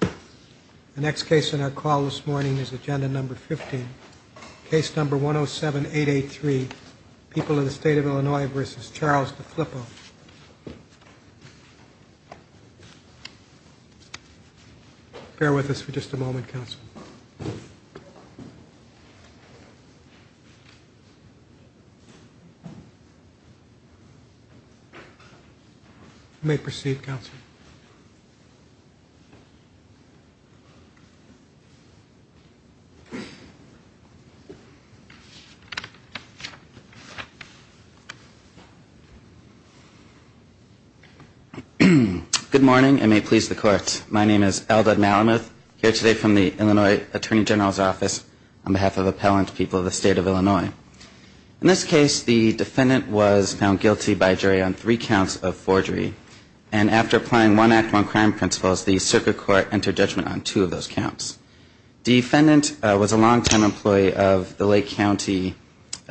The next case on our call this morning is agenda number 15, case number 107883, People of the State of Illinois v. Charles De Filippo. Bear with us for just a moment, counsel. You may proceed, counsel. Good morning, and may it please the court. My name is Eldad Malamuth, here today from the Illinois Attorney General's office on behalf of appellant People of the State of Illinois. In this case, the defendant was found guilty by jury on three counts of forgery, and after applying one act on crime principles, the circuit court entered judgment on two of those counts. The defendant was a long-time employee of the Lake County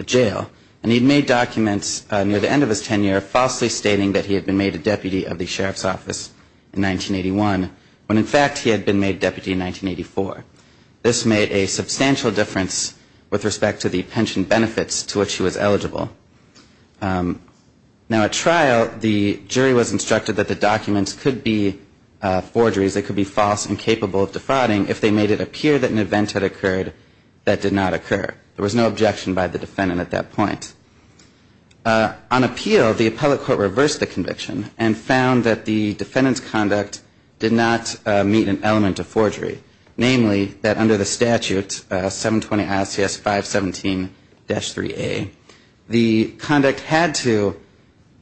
Jail, and he'd made documents near the end of his tenure falsely stating that he had been made a deputy of the sheriff's office in 1981, when in fact he had been made deputy in 1984. This made a substantial difference with respect to the pension benefits to which he was eligible. Now, at trial, the jury was instructed that the documents could be forgeries, they could be false and capable of defrauding if they made it appear that an event had occurred that did not occur. There was no objection by the defendant at that point. On appeal, the appellate court reversed the conviction and found that the defendant's conduct did not meet an element of forgery. Namely, that under the statute 720 ICS 517-3A, the conduct had to,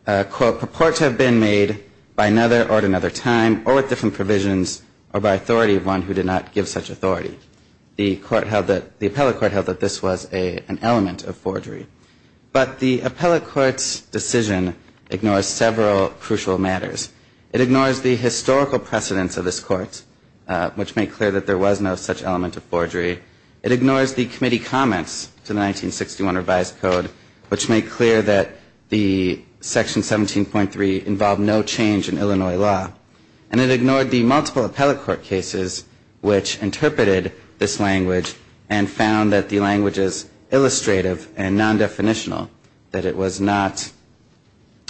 quote, purport to have been made by another or at another time or with different provisions or by authority of one who did not give such authority. The court held that, the appellate court held that this was an element of forgery. But the appellate court's decision ignores several crucial matters. It ignores the historical precedence of this court, which made clear that there was no such element of forgery. It ignores the committee comments to the 1961 revised code, which made clear that the section 17.3 involved no change in Illinois law. And it ignored the multiple appellate court cases which interpreted this language and found that the language is illustrative and non-definitional, that it was not,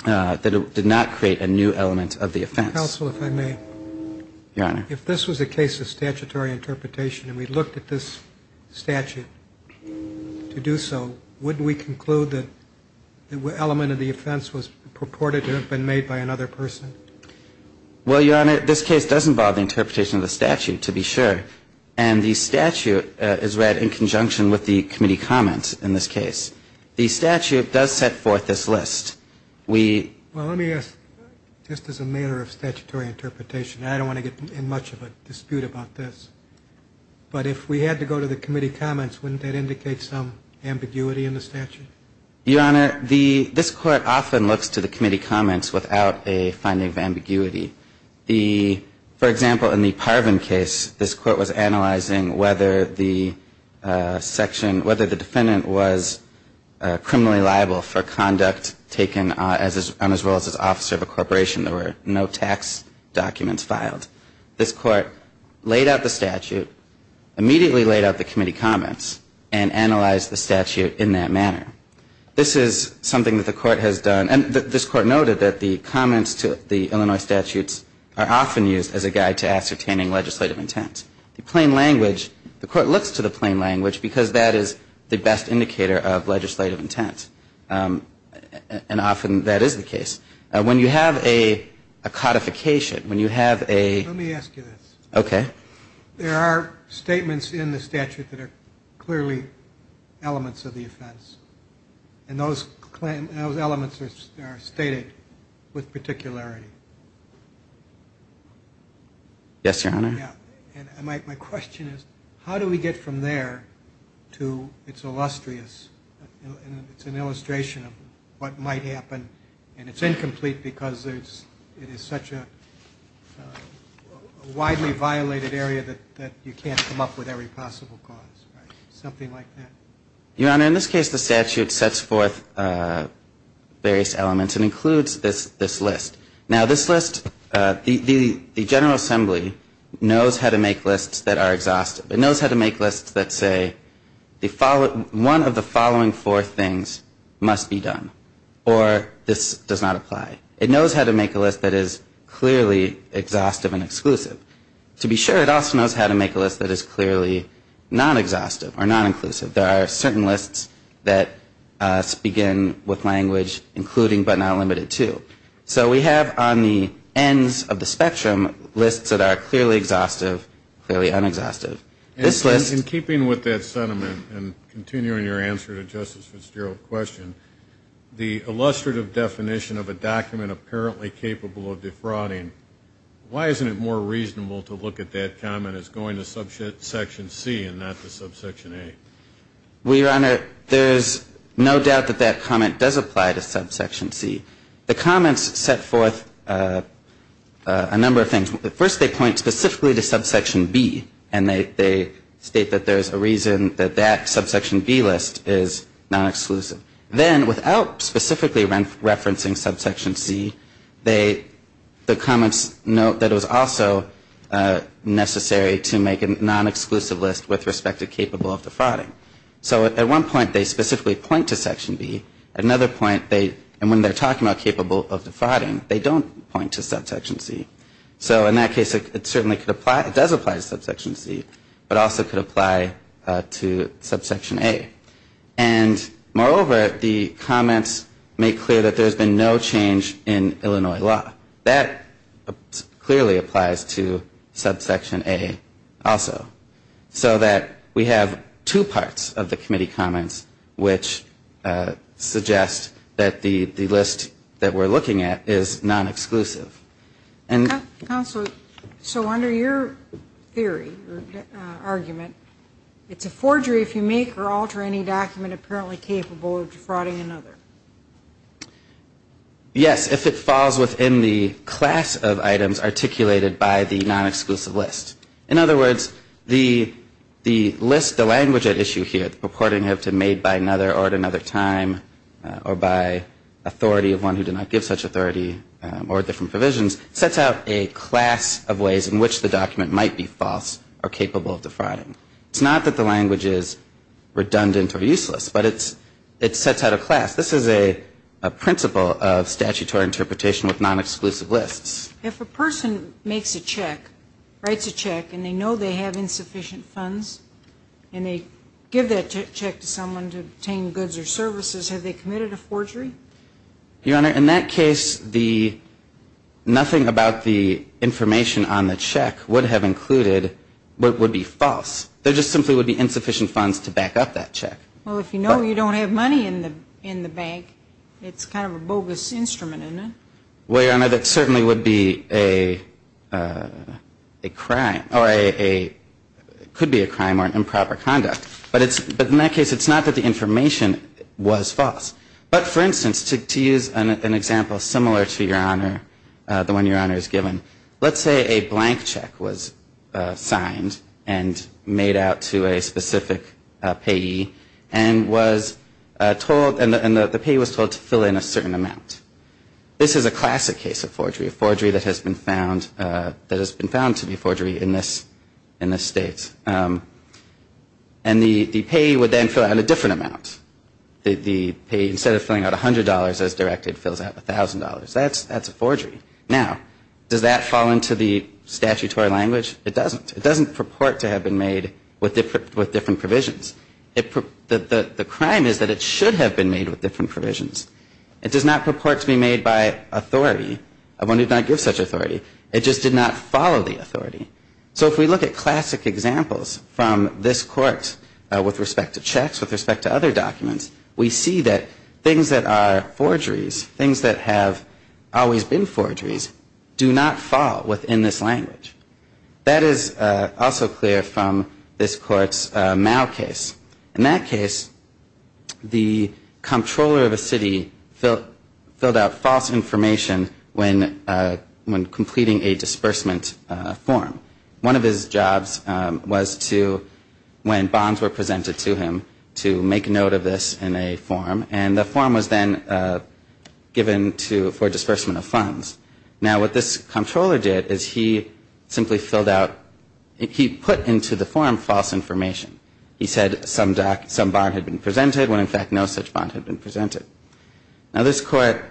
that it did not create a new element of the offense. Counsel, if I may. Your Honor. If this was a case of statutory interpretation and we looked at this statute to do so, would we conclude that the element of the offense was purported to have been made by another person? Well, Your Honor, this case does involve the interpretation of the statute, to be sure. And the statute is read in conjunction with the committee comments in this case. The statute does set forth this list. We... Well, let me ask, just as a matter of statutory interpretation, and I don't want to get in much of a dispute about this, but if we had to go to the committee comments, wouldn't that indicate some ambiguity in the statute? Your Honor, the, this court often looks to the committee comments without a finding of ambiguity. The, for example, in the Parvin case, this court was analyzing whether the section, whether the defendant was criminally liable for conduct taken on his role as an officer of a corporation. There were no tax documents filed. This court laid out the statute, immediately laid out the committee comments, and analyzed the statute in that manner. This is something that the court has done. And this court noted that the comments to the Illinois statutes are often used as a guide to ascertaining legislative intent. The plain language, the court looks to the plain language because that is the best indicator of legislative intent. And often that is the case. When you have a codification, when you have a... Let me ask you this. Okay. There are statements in the statute that are clearly elements of the offense. And those elements are stated with particularity. Yes, Your Honor. Yeah. And my question is, how do we get from there to it's illustrious, it's an illustration of what might happen, and it's incomplete because it is such a widely violated area that you can't come up with every possible cause. Something like that. Your Honor, in this case the statute sets forth various elements and includes this list. Now this list, the General Assembly knows how to make lists that are exhaustive. It knows how to make lists that say one of the following four things must be done or this does not apply. It knows how to make a list that is clearly exhaustive and exclusive. To be sure, it also knows how to make a list that is clearly non-exhaustive or non-inclusive. There are certain lists that begin with language including but not limited to. So we have on the ends of the spectrum lists that are clearly exhaustive, clearly un-exhaustive. In keeping with that sentiment and continuing your answer to Justice Fitzgerald's question, the illustrative definition of a document apparently capable of defrauding, why isn't it more reasonable to look at that comment as going to subsection C and not to subsection A? Well, Your Honor, there's no doubt that that comment does apply to subsection C. The comments set forth a number of things. First, they point specifically to subsection B and they state that there's a reason that that subsection B list is non-exclusive. Then, without specifically referencing subsection C, the comments note that it was also necessary to make a non-exclusive list with respect to capable of defrauding. So at one point, they specifically point to section B. At another point, they, and when they're talking about capable of defrauding, they don't point to subsection C. So in that case, it certainly could apply, it does apply to subsection C, but also could apply to subsection A. And moreover, the comments make clear that there's been no change in Illinois law. That clearly applies to subsection A also. So that we have two parts of the committee comments, which suggest that the list that we're looking at is non-exclusive. Counsel, so under your theory or argument, it's a forgery if you make or alter any document apparently capable of defrauding another. Yes, if it falls within the class of items articulated by the non-exclusive list. In other words, the list, the language at issue here, the purporting of to made by another or at another time, or by authority of one who did not give such authority, or different provisions, sets out a class of ways in which the document might be false or capable of defrauding. It's not that the language is redundant or useless, but it sets out a class. This is a principle of statutory interpretation with non-exclusive lists. If a person makes a check, writes a check, and they know they have insufficient funds, and they give that check to someone to obtain goods or services, have they committed a forgery? Your Honor, in that case, nothing about the information on the check would have included what would be false. There just simply would be insufficient funds to back up that check. Well, if you know you don't have money in the bank, it's kind of a bogus instrument, isn't it? Well, Your Honor, that certainly would be a crime, or could be a crime or an improper conduct. But in that case, it's not that the information was false. But, for instance, to use an example similar to the one Your Honor has given, let's say a blank check was signed and made out to a specific payee, and the payee was told to fill in a certain amount. This is a classic case of forgery, a forgery that has been found to be a forgery in this State. And the payee would then fill out a different amount. The payee, instead of filling out $100 as directed, fills out $1,000. That's a forgery. Now, does that fall into the statutory language? It doesn't. It doesn't purport to have been made with different provisions. The crime is that it should have been made with different provisions. It does not purport to be made by authority. One did not give such authority. It just did not follow the authority. So if we look at classic examples from this Court with respect to checks, with respect to other documents, we see that things that are forgeries, things that have always been forgeries, do not fall within this language. That is also clear from this Court's Mao case. In that case, the comptroller of a city filled out false information when completing a disbursement form. One of his jobs was to, when bonds were presented to him, to make note of this in a form. And the form was then given for disbursement of funds. Now, what this comptroller did is he simply filled out, he put into the form false information. He said some bond had been presented when, in fact, no such bond had been presented. Now, this Court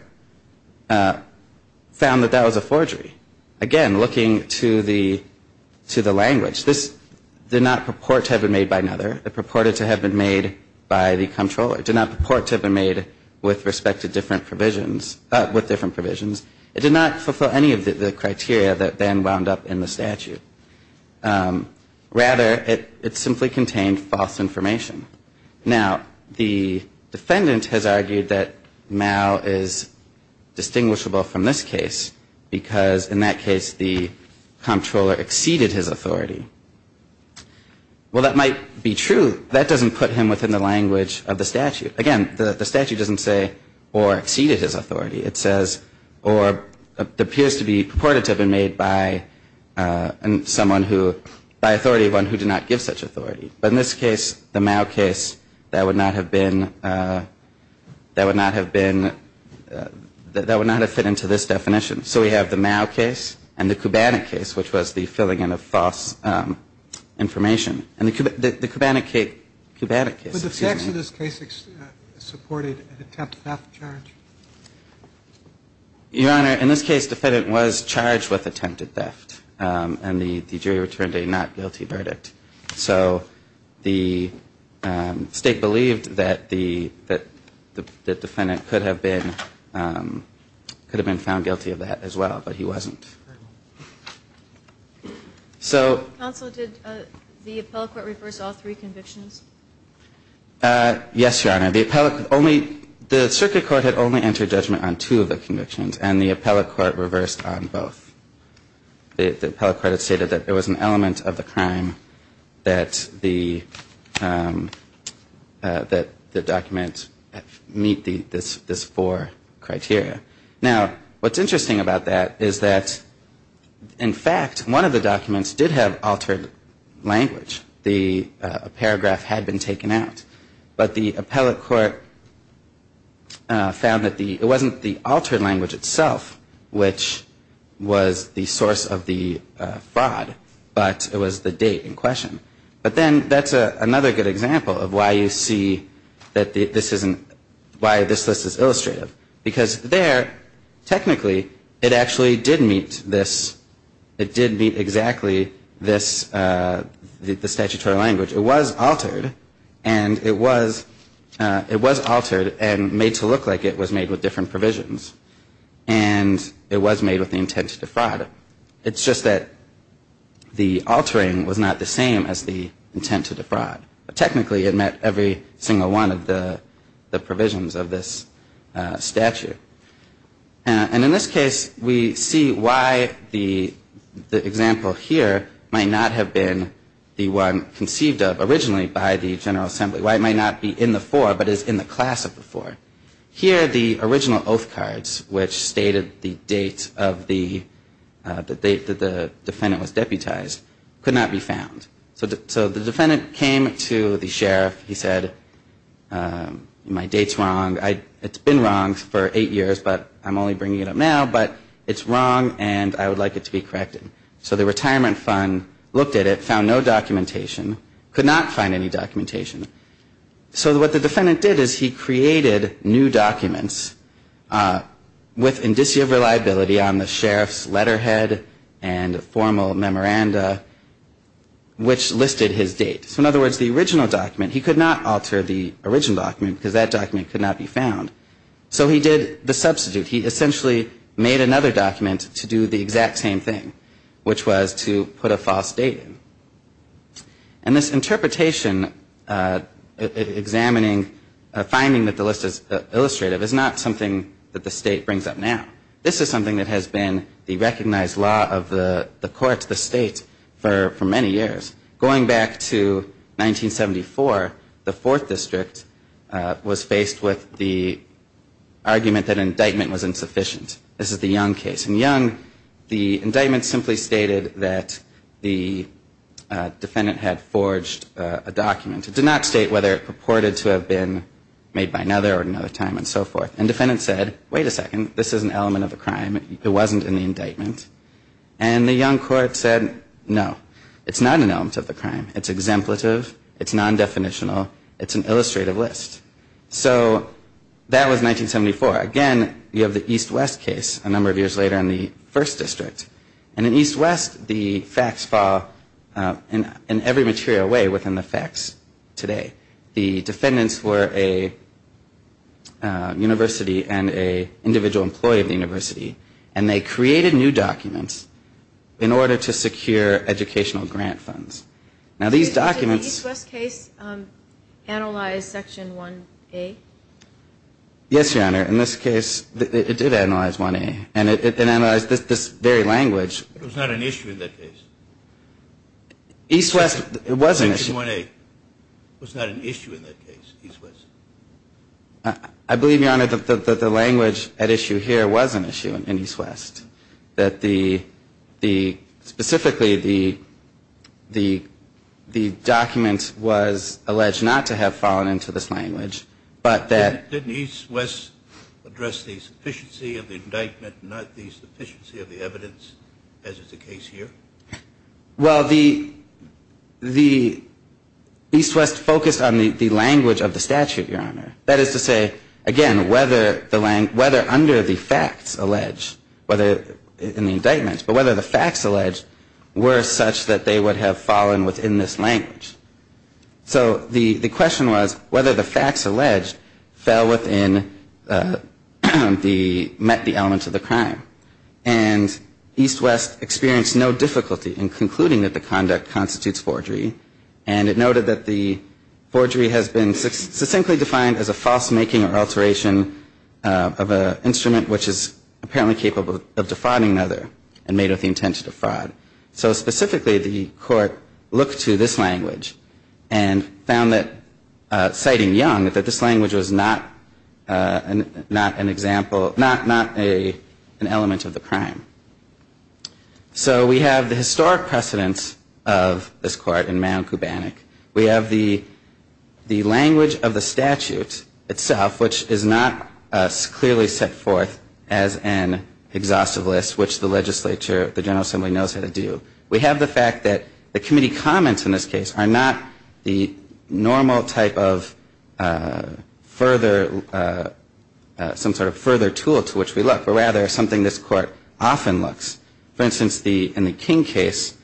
found that that was a forgery. Again, looking to the language, this did not purport to have been made by another. It did not fulfill any of the criteria that then wound up in the statute. Rather, it simply contained false information. Now, the defendant has argued that Mao is distinguishable from this case because, in that case, the comptroller exceeded his authority. Well, that might be true. That doesn't put him within the language of the statute. Again, the statute doesn't say, or exceeded his authority. It says, or appears to be purported to have been made by someone who, by authority of one who did not give such authority. But in this case, the Mao case, that would not have been, that would not have been, that would not have fit into this definition. So we have the Mao case and the Kubanek case, which was the filling in of false information. And the Kubanek case, excuse me. Your Honor, in this case, the defendant was charged with attempted theft. And the jury returned a not guilty verdict. So the State believed that the defendant could have been found guilty of that as well, but he wasn't. Counsel, did the appellate court reverse all three convictions? Yes, Your Honor. The circuit court had only entered judgment on two of the convictions, and the appellate court reversed on both. The appellate court had stated that there was an element of the crime that the document meet this four criteria. Now, what's interesting about that is that, in fact, one of the documents did have altered language. The paragraph had been taken out. But the appellate court found that the, it wasn't the altered language itself which was the source of the fraud, but it was the date in question. But then that's another good example of why you see that this isn't, why this list is illustrative. Because there, technically, it actually did meet this, it did meet exactly this, the statutory language. It was altered, and it was altered and made to look like it was made with different provisions. And it was made with the intent to defraud. It's just that the altering was not the same as the intent to defraud. Technically, it met every single one of the provisions of this statute. And in this case, we see why the example here might not have been the one conceived of originally by the General Assembly. Why it might not be in the four, but is in the class of the four. Here, the original oath cards, which stated the date of the, the date that the defendant was deputized, could not be found. So the defendant came to the sheriff, he said, my date's wrong. It's been wrong for eight years, but I'm only bringing it up now, but it's wrong and I would like it to be corrected. So the retirement fund looked at it, found no documentation, could not find any documentation. So what the defendant did is he created new documents with indicia of reliability on the sheriff's letterhead and formal memoranda. Which listed his date. So in other words, the original document, he could not alter the original document because that document could not be found. So he did the substitute. He essentially made another document to do the exact same thing. Which was to put a false date in. And this interpretation examining, finding that the list is illustrative is not something that the state brings up now. This is something that has been the recognized law of the court, the state, for many years. Going back to 1974, the fourth district was faced with the argument that indictment was insufficient. This is the Young case. In Young, the indictment simply stated that the defendant had forged a document. It did not state whether it purported to have been made by another at another time and so forth. And defendant said, wait a second, this is an element of the crime. It wasn't in the indictment. And the Young court said, no. It's not an element of the crime. It's exemplative. It's non-definitional. It's an illustrative list. So that was 1974. Again, you have the East West case a number of years later in the first district. And in East West, the facts fall in every material way within the facts today. The defendants were a university and an individual employee of the university. And they created new documents in order to secure educational grant funds. Now, these documents... Did the East West case analyze Section 1A? Yes, Your Honor. In this case, it did analyze 1A. And it analyzed this very language. It was not an issue in that case. East West, it was an issue. Section 1A was not an issue in that case. East West. I believe, Your Honor, that the language at issue here was an issue in East West. That the, specifically, the document was alleged not to have fallen into this language, but that... Didn't East West address the sufficiency of the indictment, not the sufficiency of the evidence, as is the case here? Well, the East West focused on the language of the statute, Your Honor. That is to say, again, whether under the facts alleged, whether in the indictments, but whether the facts alleged were such that they would have fallen within this language. So the question was whether the facts alleged fell within the... met the elements of the crime. And East West experienced no difficulty in concluding that the conduct constitutes forgery. And it noted that the forgery has been succinctly defined as a false making or alteration of an instrument which is apparently capable of defrauding another and made with the intent to defraud. So specifically, the court looked to this language and found that, citing Young, that this language was not an example, not an element of the crime. So we have the historic precedence of this court in Mann and Kubanek. We have the language of the statute itself, which is not as clearly set forth as an exhaustive list, which the legislature, the General Assembly knows how to do. We have the fact that the committee comments in this case are not the normal type of further, some sort of further tool to which we look, but rather something this court often looks. For instance, in the King case,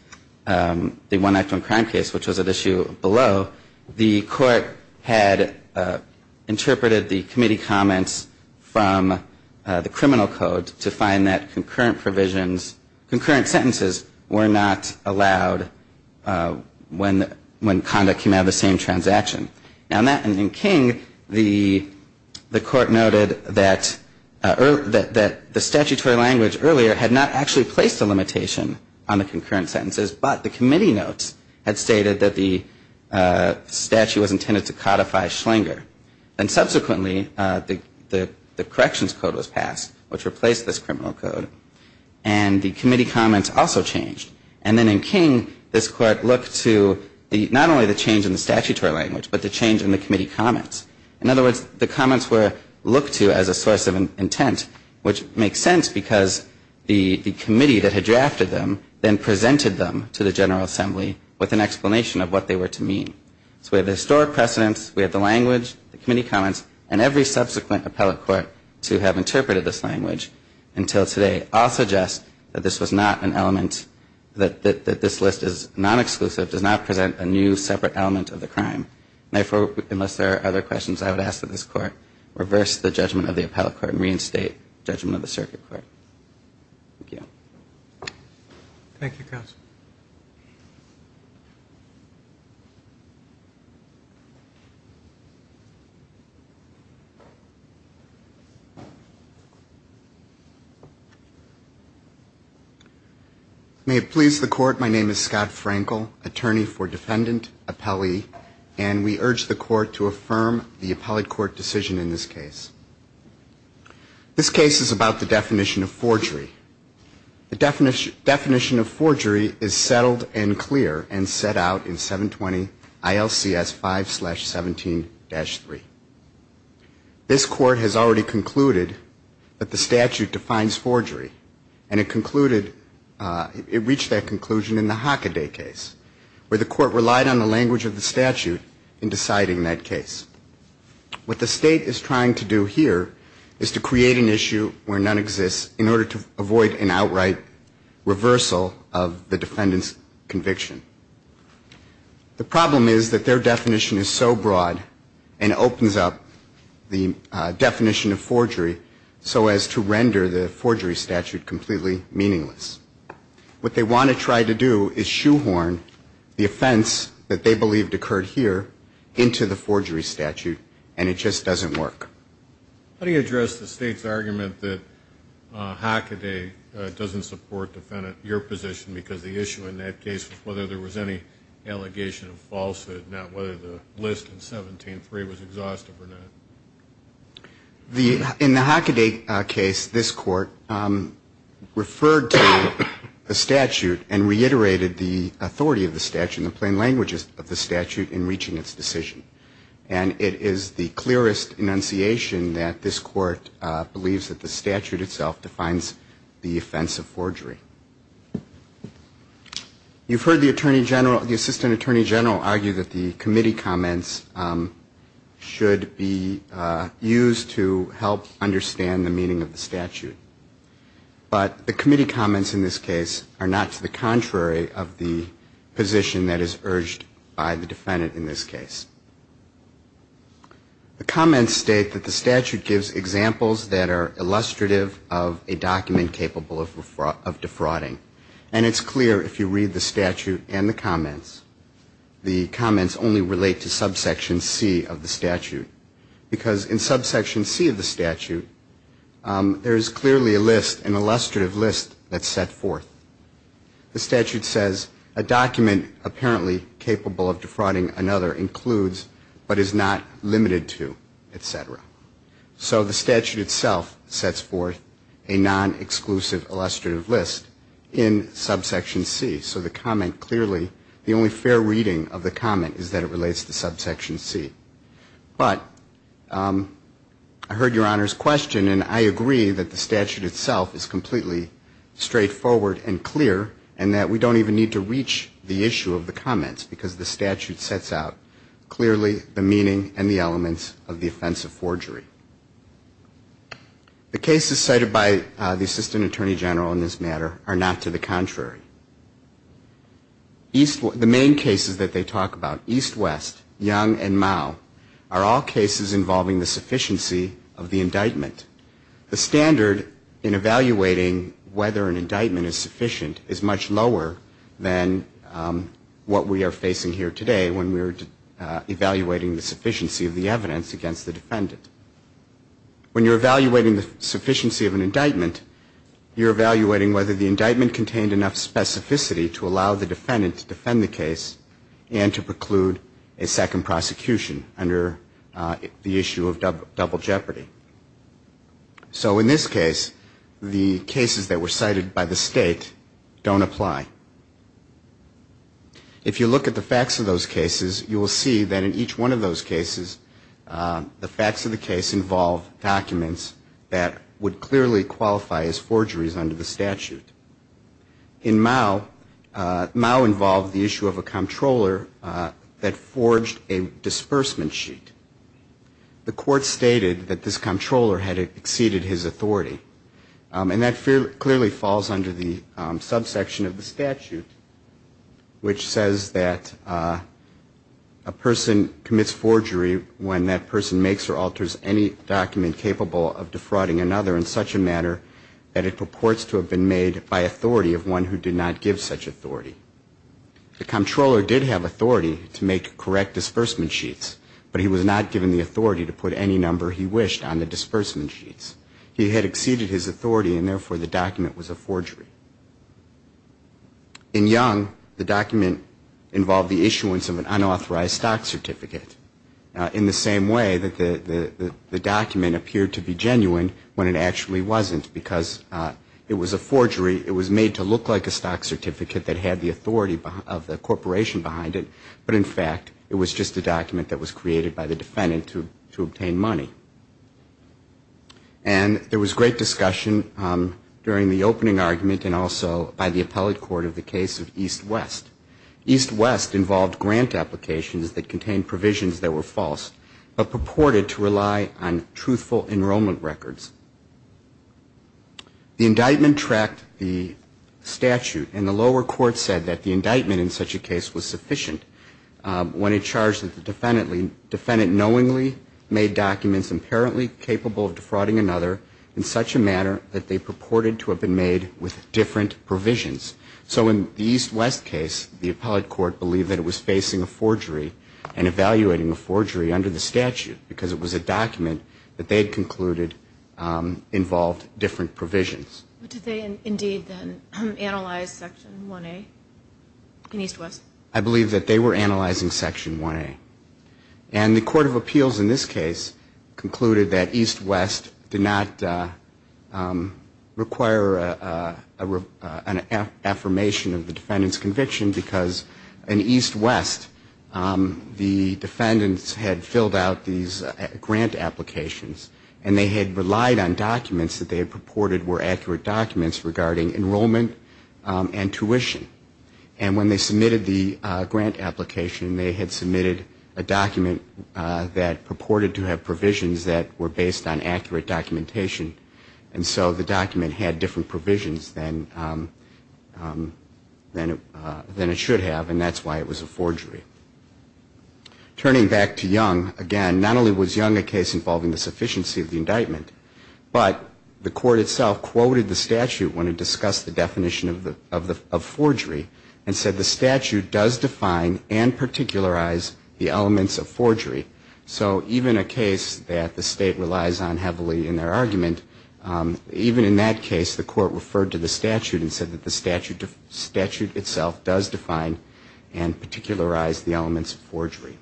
the one act on crime case, which was at issue below, the court had interpreted the committee comments from the criminal code to find that concurrent provisions, concurrent sentences, were not allowed when conduct came out of the same transaction. And in King, the court noted that the statutory language earlier had not actually placed a limitation on the concurrent sentences, but the committee notes had stated that the statute was intended to codify Schlinger. And subsequently, the corrections code was passed, which replaced this criminal code. And the committee comments also changed. And then in King, this court looked to not only the change in the statutory language, but the change in the committee comments. In other words, the comments were looked to as a source of intent, which makes sense because the committee that had drafted them then presented them to the General Assembly with an explanation of what they were to mean. So we have the historic precedence, we have the language, the committee comments, and every subsequent appellate court to have interpreted this language until today all suggest that this was not an element, that this list is non-exclusive, does not present a new separate element of the crime. And therefore, unless there are other questions I would ask of this court, reverse the judgment of the appellate court and reinstate judgment of the circuit court. Thank you. Thank you, counsel. May it please the court, my name is Scott Frankel, attorney for defendant appellee, and we urge the court to affirm the appellate court decision in this case. This case is about the definition of forgery. The definition of forgery is settled and clear and set out in 720 ILCS 5-17-3. This court has already concluded that the statute defines forgery, and it concluded, it reached that conclusion in the Hockaday case, where the court relied on the language of the statute in deciding that case. What the state is trying to do here is to create an issue where none exists in order to avoid an outright reversal of the defendant's conviction. The problem is that their definition is so broad and opens up the definition of forgery so as to render the forgery statute completely meaningless. What they want to try to do is shoehorn the offense that they believed occurred here into the forgery statute, and it just doesn't work. How do you address the state's argument that Hockaday doesn't support your position because the issue in that case was whether there was any allegation of falsehood, not whether the list in 17-3 was exhaustive or not? In the Hockaday case, this court referred to the statute and reiterated the authority of the statute and the plain languages of the statute in reaching its decision, and it is the clearest enunciation that this court believes that the statute itself defines the offense of forgery. You've heard the Attorney General, the Assistant Attorney General argue that the committee comments should be used to help understand the meaning of the statute, but the committee comments in this case are not to the contrary of the position that is urged by the defendant in this case. The comments state that the statute gives examples that are illustrative of a document capable of defrauding, and it's clear if you read the statute and the comments. The comments only relate to subsection C of the statute because in subsection C of the statute, there is clearly a list, an illustrative list that's set forth. The statute says a document apparently capable of defrauding another includes but is not limited to, et cetera. So the statute itself sets forth a non-exclusive illustrative list in subsection C, so the comment clearly, the only fair reading of the comment is that it relates to subsection C. But I heard Your Honor's question, and I agree that the statute itself is completely straightforward and clear and that we don't even need to reach the issue of the comments because the statute sets out clearly the meaning and the elements of the offense of forgery. The cases cited by the Assistant Attorney General in this matter are not to the contrary. The main cases that they talk about, East-West, Young, and Mao, are all cases involving the sufficiency of the indictment. The standard in evaluating whether an indictment is sufficient is much lower than what we are facing here today when we're evaluating the sufficiency of the evidence against the defendant. When you're evaluating the sufficiency of an indictment, you're evaluating whether the indictment contained enough specificity to allow the defendant to defend the case and to preclude a second prosecution under the issue of double jeopardy. So in this case, the cases that were cited by the State don't apply. If you look at the facts of those cases, you will see that in each one of those cases, the facts of the case involve documents that would clearly qualify as forgeries under the statute. In Mao, Mao involved the issue of a controller that forged a disbursement sheet. The court stated that this controller had exceeded his authority. And that clearly falls under the subsection of the statute, which says that a person commits forgery when that person makes or alters any document capable of defrauding another in such a manner that it purports to have been made by authority of one who did not give such authority. The controller did have authority to make correct disbursement sheets, but he was not given the authority to put any number he wished on the disbursement sheets. He had exceeded his authority, and therefore the document was a forgery. In Young, the document involved the issuance of an unauthorized stock certificate, in the same way that the document appeared to be genuine when it actually wasn't, because it was a forgery. It was made to look like a stock certificate that had the authority of the corporation behind it. But in fact, it was just a document that was created by the defendant to obtain money. And there was great discussion during the opening argument and also by the appellate court of the case of East-West. East-West involved grant applications that contained provisions that were false, but purported to rely on truthful enrollment records. The indictment tracked the statute, and the lower court said that the indictment in such a case was sufficient when it charged that the defendant knowingly made documents apparently capable of defrauding another in such a manner that they purported to have been made with different provisions. So in the East-West case, the appellate court believed that it was facing a forgery and evaluating a forgery under the statute, because it was a document that they had concluded involved different provisions. But did they indeed then analyze Section 1A in East-West? I believe that they were analyzing Section 1A. And the court of appeals in this case concluded that East-West did not require an affirmation of the defendant's conviction because in East-West, the defendants had filled out these grant applications, and they had relied on documents that they had purported were accurate documents regarding enrollment and tuition. And when they submitted the grant application, they had submitted a document that purported to have provisions that were based on accurate documentation. And so the document had different provisions than it should have, and that's why it was a forgery. Turning back to Young, again, not only was Young a case involving the sufficiency of the indictment, but the court itself quoted the statute when it discussed the definition of forgery and said the statute does define and particularize the elements of forgery. So even a case that the State relies on heavily in their argument, even in that case, the court referred to the statute and said that the statute itself does define and particularize the elements of forgery.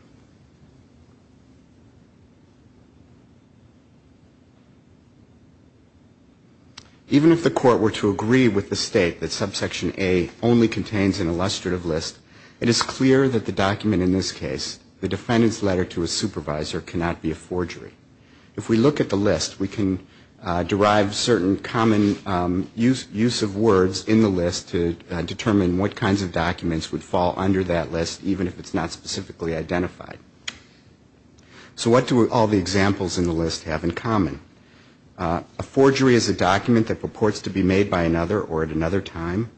Even if the court were to agree with the State that subsection A only contains an illustrative list, it is clear that the document in this case, the defendant's letter to a supervisor, cannot be a forgery. If we look at the list, we can derive certain common use of words in the list to determine what kinds of documents would fall under that list, even if it's not specifically identified. So what do all the examples in the list have in common? A forgery is a document that purports to be made by another or at another time.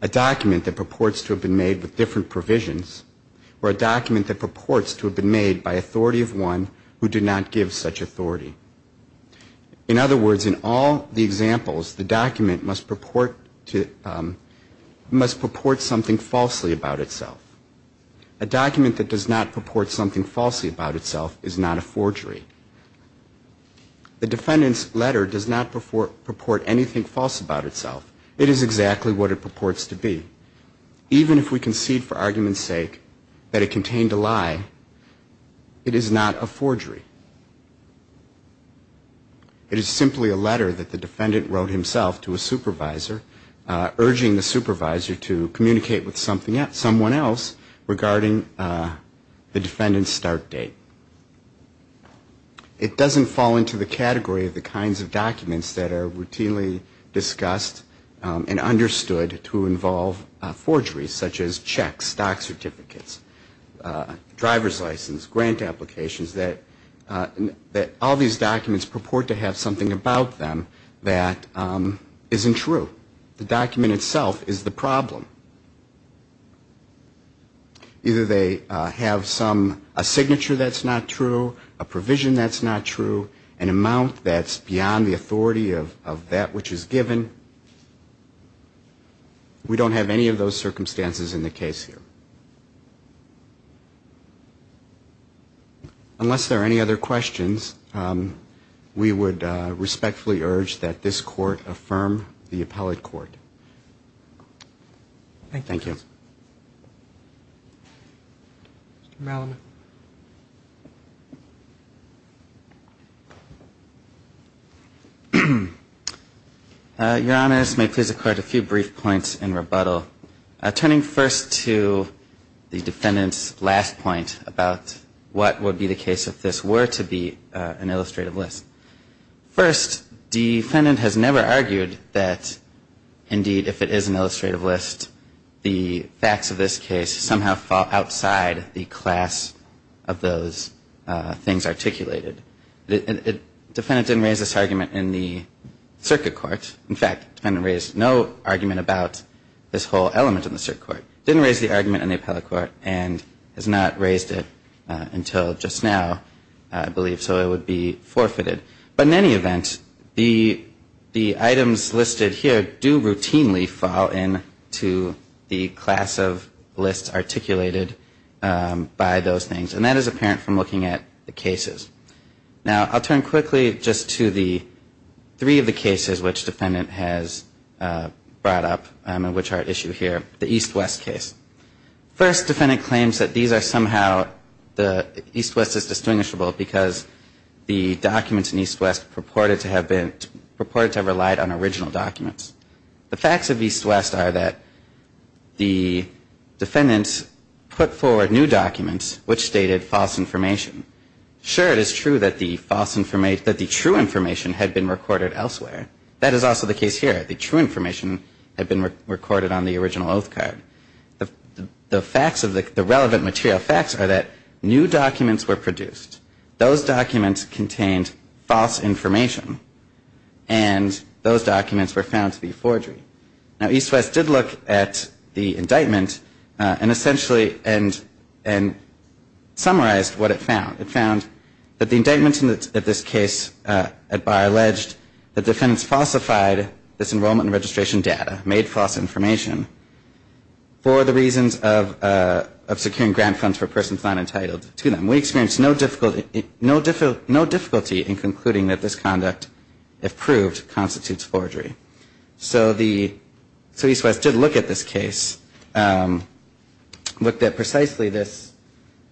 A document that purports to have been made with different provisions or a document that purports to have been made by authority of one who did not give such authority. In other words, in all the examples, the document must purport to, must purport something falsely about itself. A document that does not purport something falsely about itself is not a forgery. The defendant's letter does not purport anything false about itself. It is exactly what it purports to be. Even if we concede for argument's sake that it contained a lie, it is not a forgery. It is simply a letter that the defendant wrote himself to a supervisor, urging the supervisor to communicate with someone else regarding the defendant's start date. It doesn't fall into the category of the kinds of documents that are routinely discussed and understood to involve forgeries, such as checks, stock certificates, driver's license, grant applications, that all these documents purport to have something about them that isn't true. The document itself is the problem. Either they have some, a signature that's not true, a provision that's not true, an amount that's beyond the authority of that which is given. We don't have any of those circumstances in the case here. Unless there are any other questions, we would respectfully urge that this court affirm the appellate court. Thank you. Your Honor, this may please the Court a few brief points in rebuttal. Turning first to the defendant's last point about what would be the case if this were to be an illustrative list. First, the defendant has never argued that, indeed, if it is an illustrative list, the facts of this case somehow fall outside the class of those things articulated. The defendant didn't raise this argument in the circuit court. In fact, the defendant raised no argument about this whole element in the circuit court. Didn't raise the argument in the appellate court and has not raised it until just now, I believe. So it would be forfeited. But in any event, the items listed here do routinely fall into the class of lists articulated by those things. And that is apparent from looking at the cases. Now, I'll turn quickly just to the three of the cases which defendant has brought up and which are at issue here. The East-West case. First, defendant claims that these are somehow, the East-West is distinguishable because the documents in East-West purported to have been, purported to have relied on original documents. The facts of East-West are that the defendant put forward new documents which stated false information. Sure, it is true that the false information, that the true information had been recorded elsewhere. That is also the case here. The true information had been recorded on the original oath card. The facts of the, the relevant material facts are that new documents were produced. Those documents contained false information. And those documents were found to be forgery. Now, East-West did look at the indictment and essentially, and, and summarized what it found. It found that the indictment in this case at bar alleged that defendants falsified this enrollment and registration data, made false information for the reasons of securing grant funds for persons not entitled to them. We experienced no difficulty in concluding that this conduct, if proved, constitutes forgery. So the, so East-West did look at this case, looked at precisely this,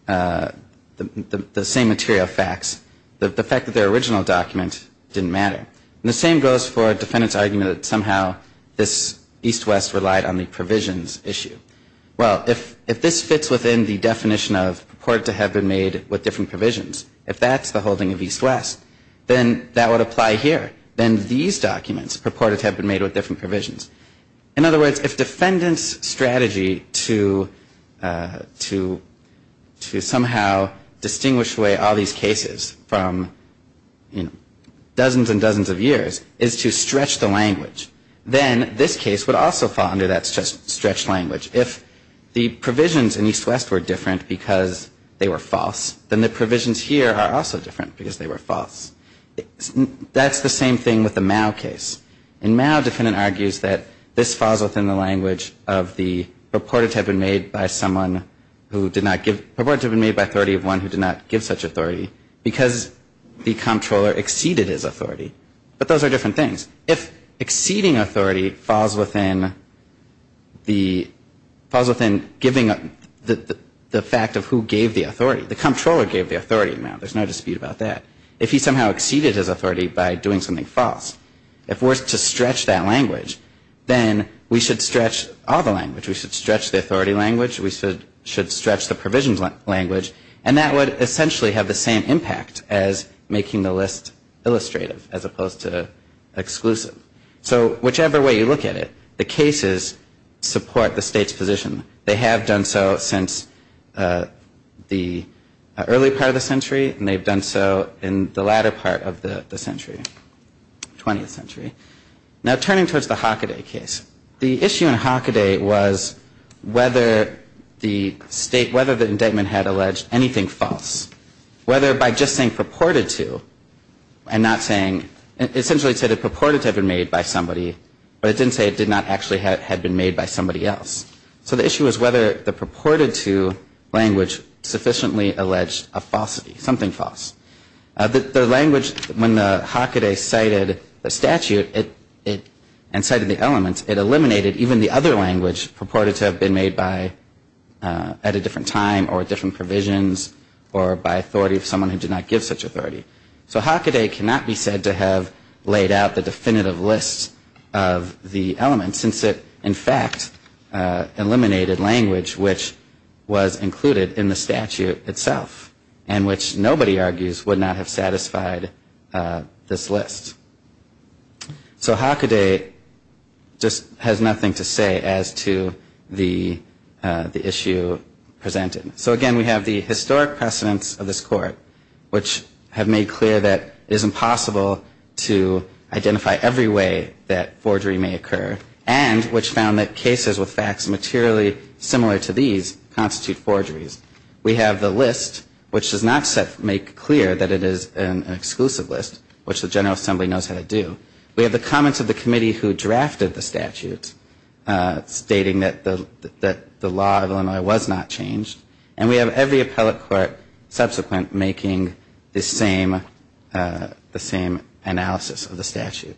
the, the same material facts. The, the fact that their original document didn't matter. And the same goes for a defendant's argument that somehow this East-West relied on the provisions issue. Well, if, if this fits within the definition of purported to have been made with different provisions, if that's the holding of East-West, then that would apply here. Then these documents purported to have been made with different provisions. In other words, if defendant's strategy to, to, to somehow distinguish away all these cases from, you know, dozens and dozens of years is to stretch the language, then this case would also fall under that stretch, stretch language. If the provisions in East-West were different because they were false, then the provisions here are also different because they were false. That's the same thing with the Mao case. And Mao defendant argues that this falls within the language of the purported to have been made by someone who did not give, purported to have been made by authority of one who did not give such authority because the comptroller exceeded his authority. But those are different things. If exceeding authority falls within the, falls within giving the, the fact of who gave the authority, the comptroller gave the authority in Mao, there's no dispute about that. If he somehow exceeded his authority by doing something false, if we're to stretch that language, then we should stretch all the language. We should stretch the authority language, we should, should stretch the provisions language, and that would essentially have the same impact as making the list illustrative as opposed to exclusive. So whichever way you look at it, the cases support the state's position. They have done so since the early part of the century, and they've done so in the latter part of the century, 20th century. Now turning towards the Hockaday case, the issue in Hockaday was whether the state, whether the indictment had alleged anything false. Whether by just saying purported to and not saying, essentially it said it purported to have been made by somebody, but it didn't say it did not actually have been made by somebody else. So the issue was whether the purported to language sufficiently alleged a falsity, something false. The language, when the Hockaday cited the statute and cited the elements, it eliminated even the other language purported to have been made by, at a different time, or different provisions, or by authority of someone who did not give such authority. So Hockaday cannot be said to have laid out the definitive list of the elements, since it in fact eliminated language which was included in the statute itself, and which nobody argues would not have satisfied this list. So Hockaday just has nothing to say as to the issue presented. So again, we have the historic precedents of this court, which have made clear that it is impossible to identify every way that forgery may occur, and which found that cases with facts materially similar to these constitute forgeries. We have the list, which does not make clear that it is an exclusive list, which the General Assembly knows how to do. We have the comments of the committee who drafted the statute, stating that the law of Illinois was not changed. And we have every appellate court subsequent making the same analysis of the statute.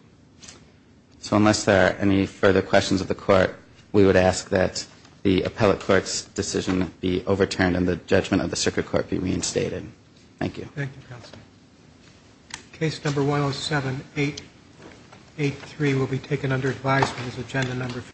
So unless there are any further questions of the court, we would ask that the appellate court's decision be overturned and the judgment of the circuit court be reinstated. Thank you. Thank you, Counselor. Case number 107-883 will be taken under advisement as agenda number 5.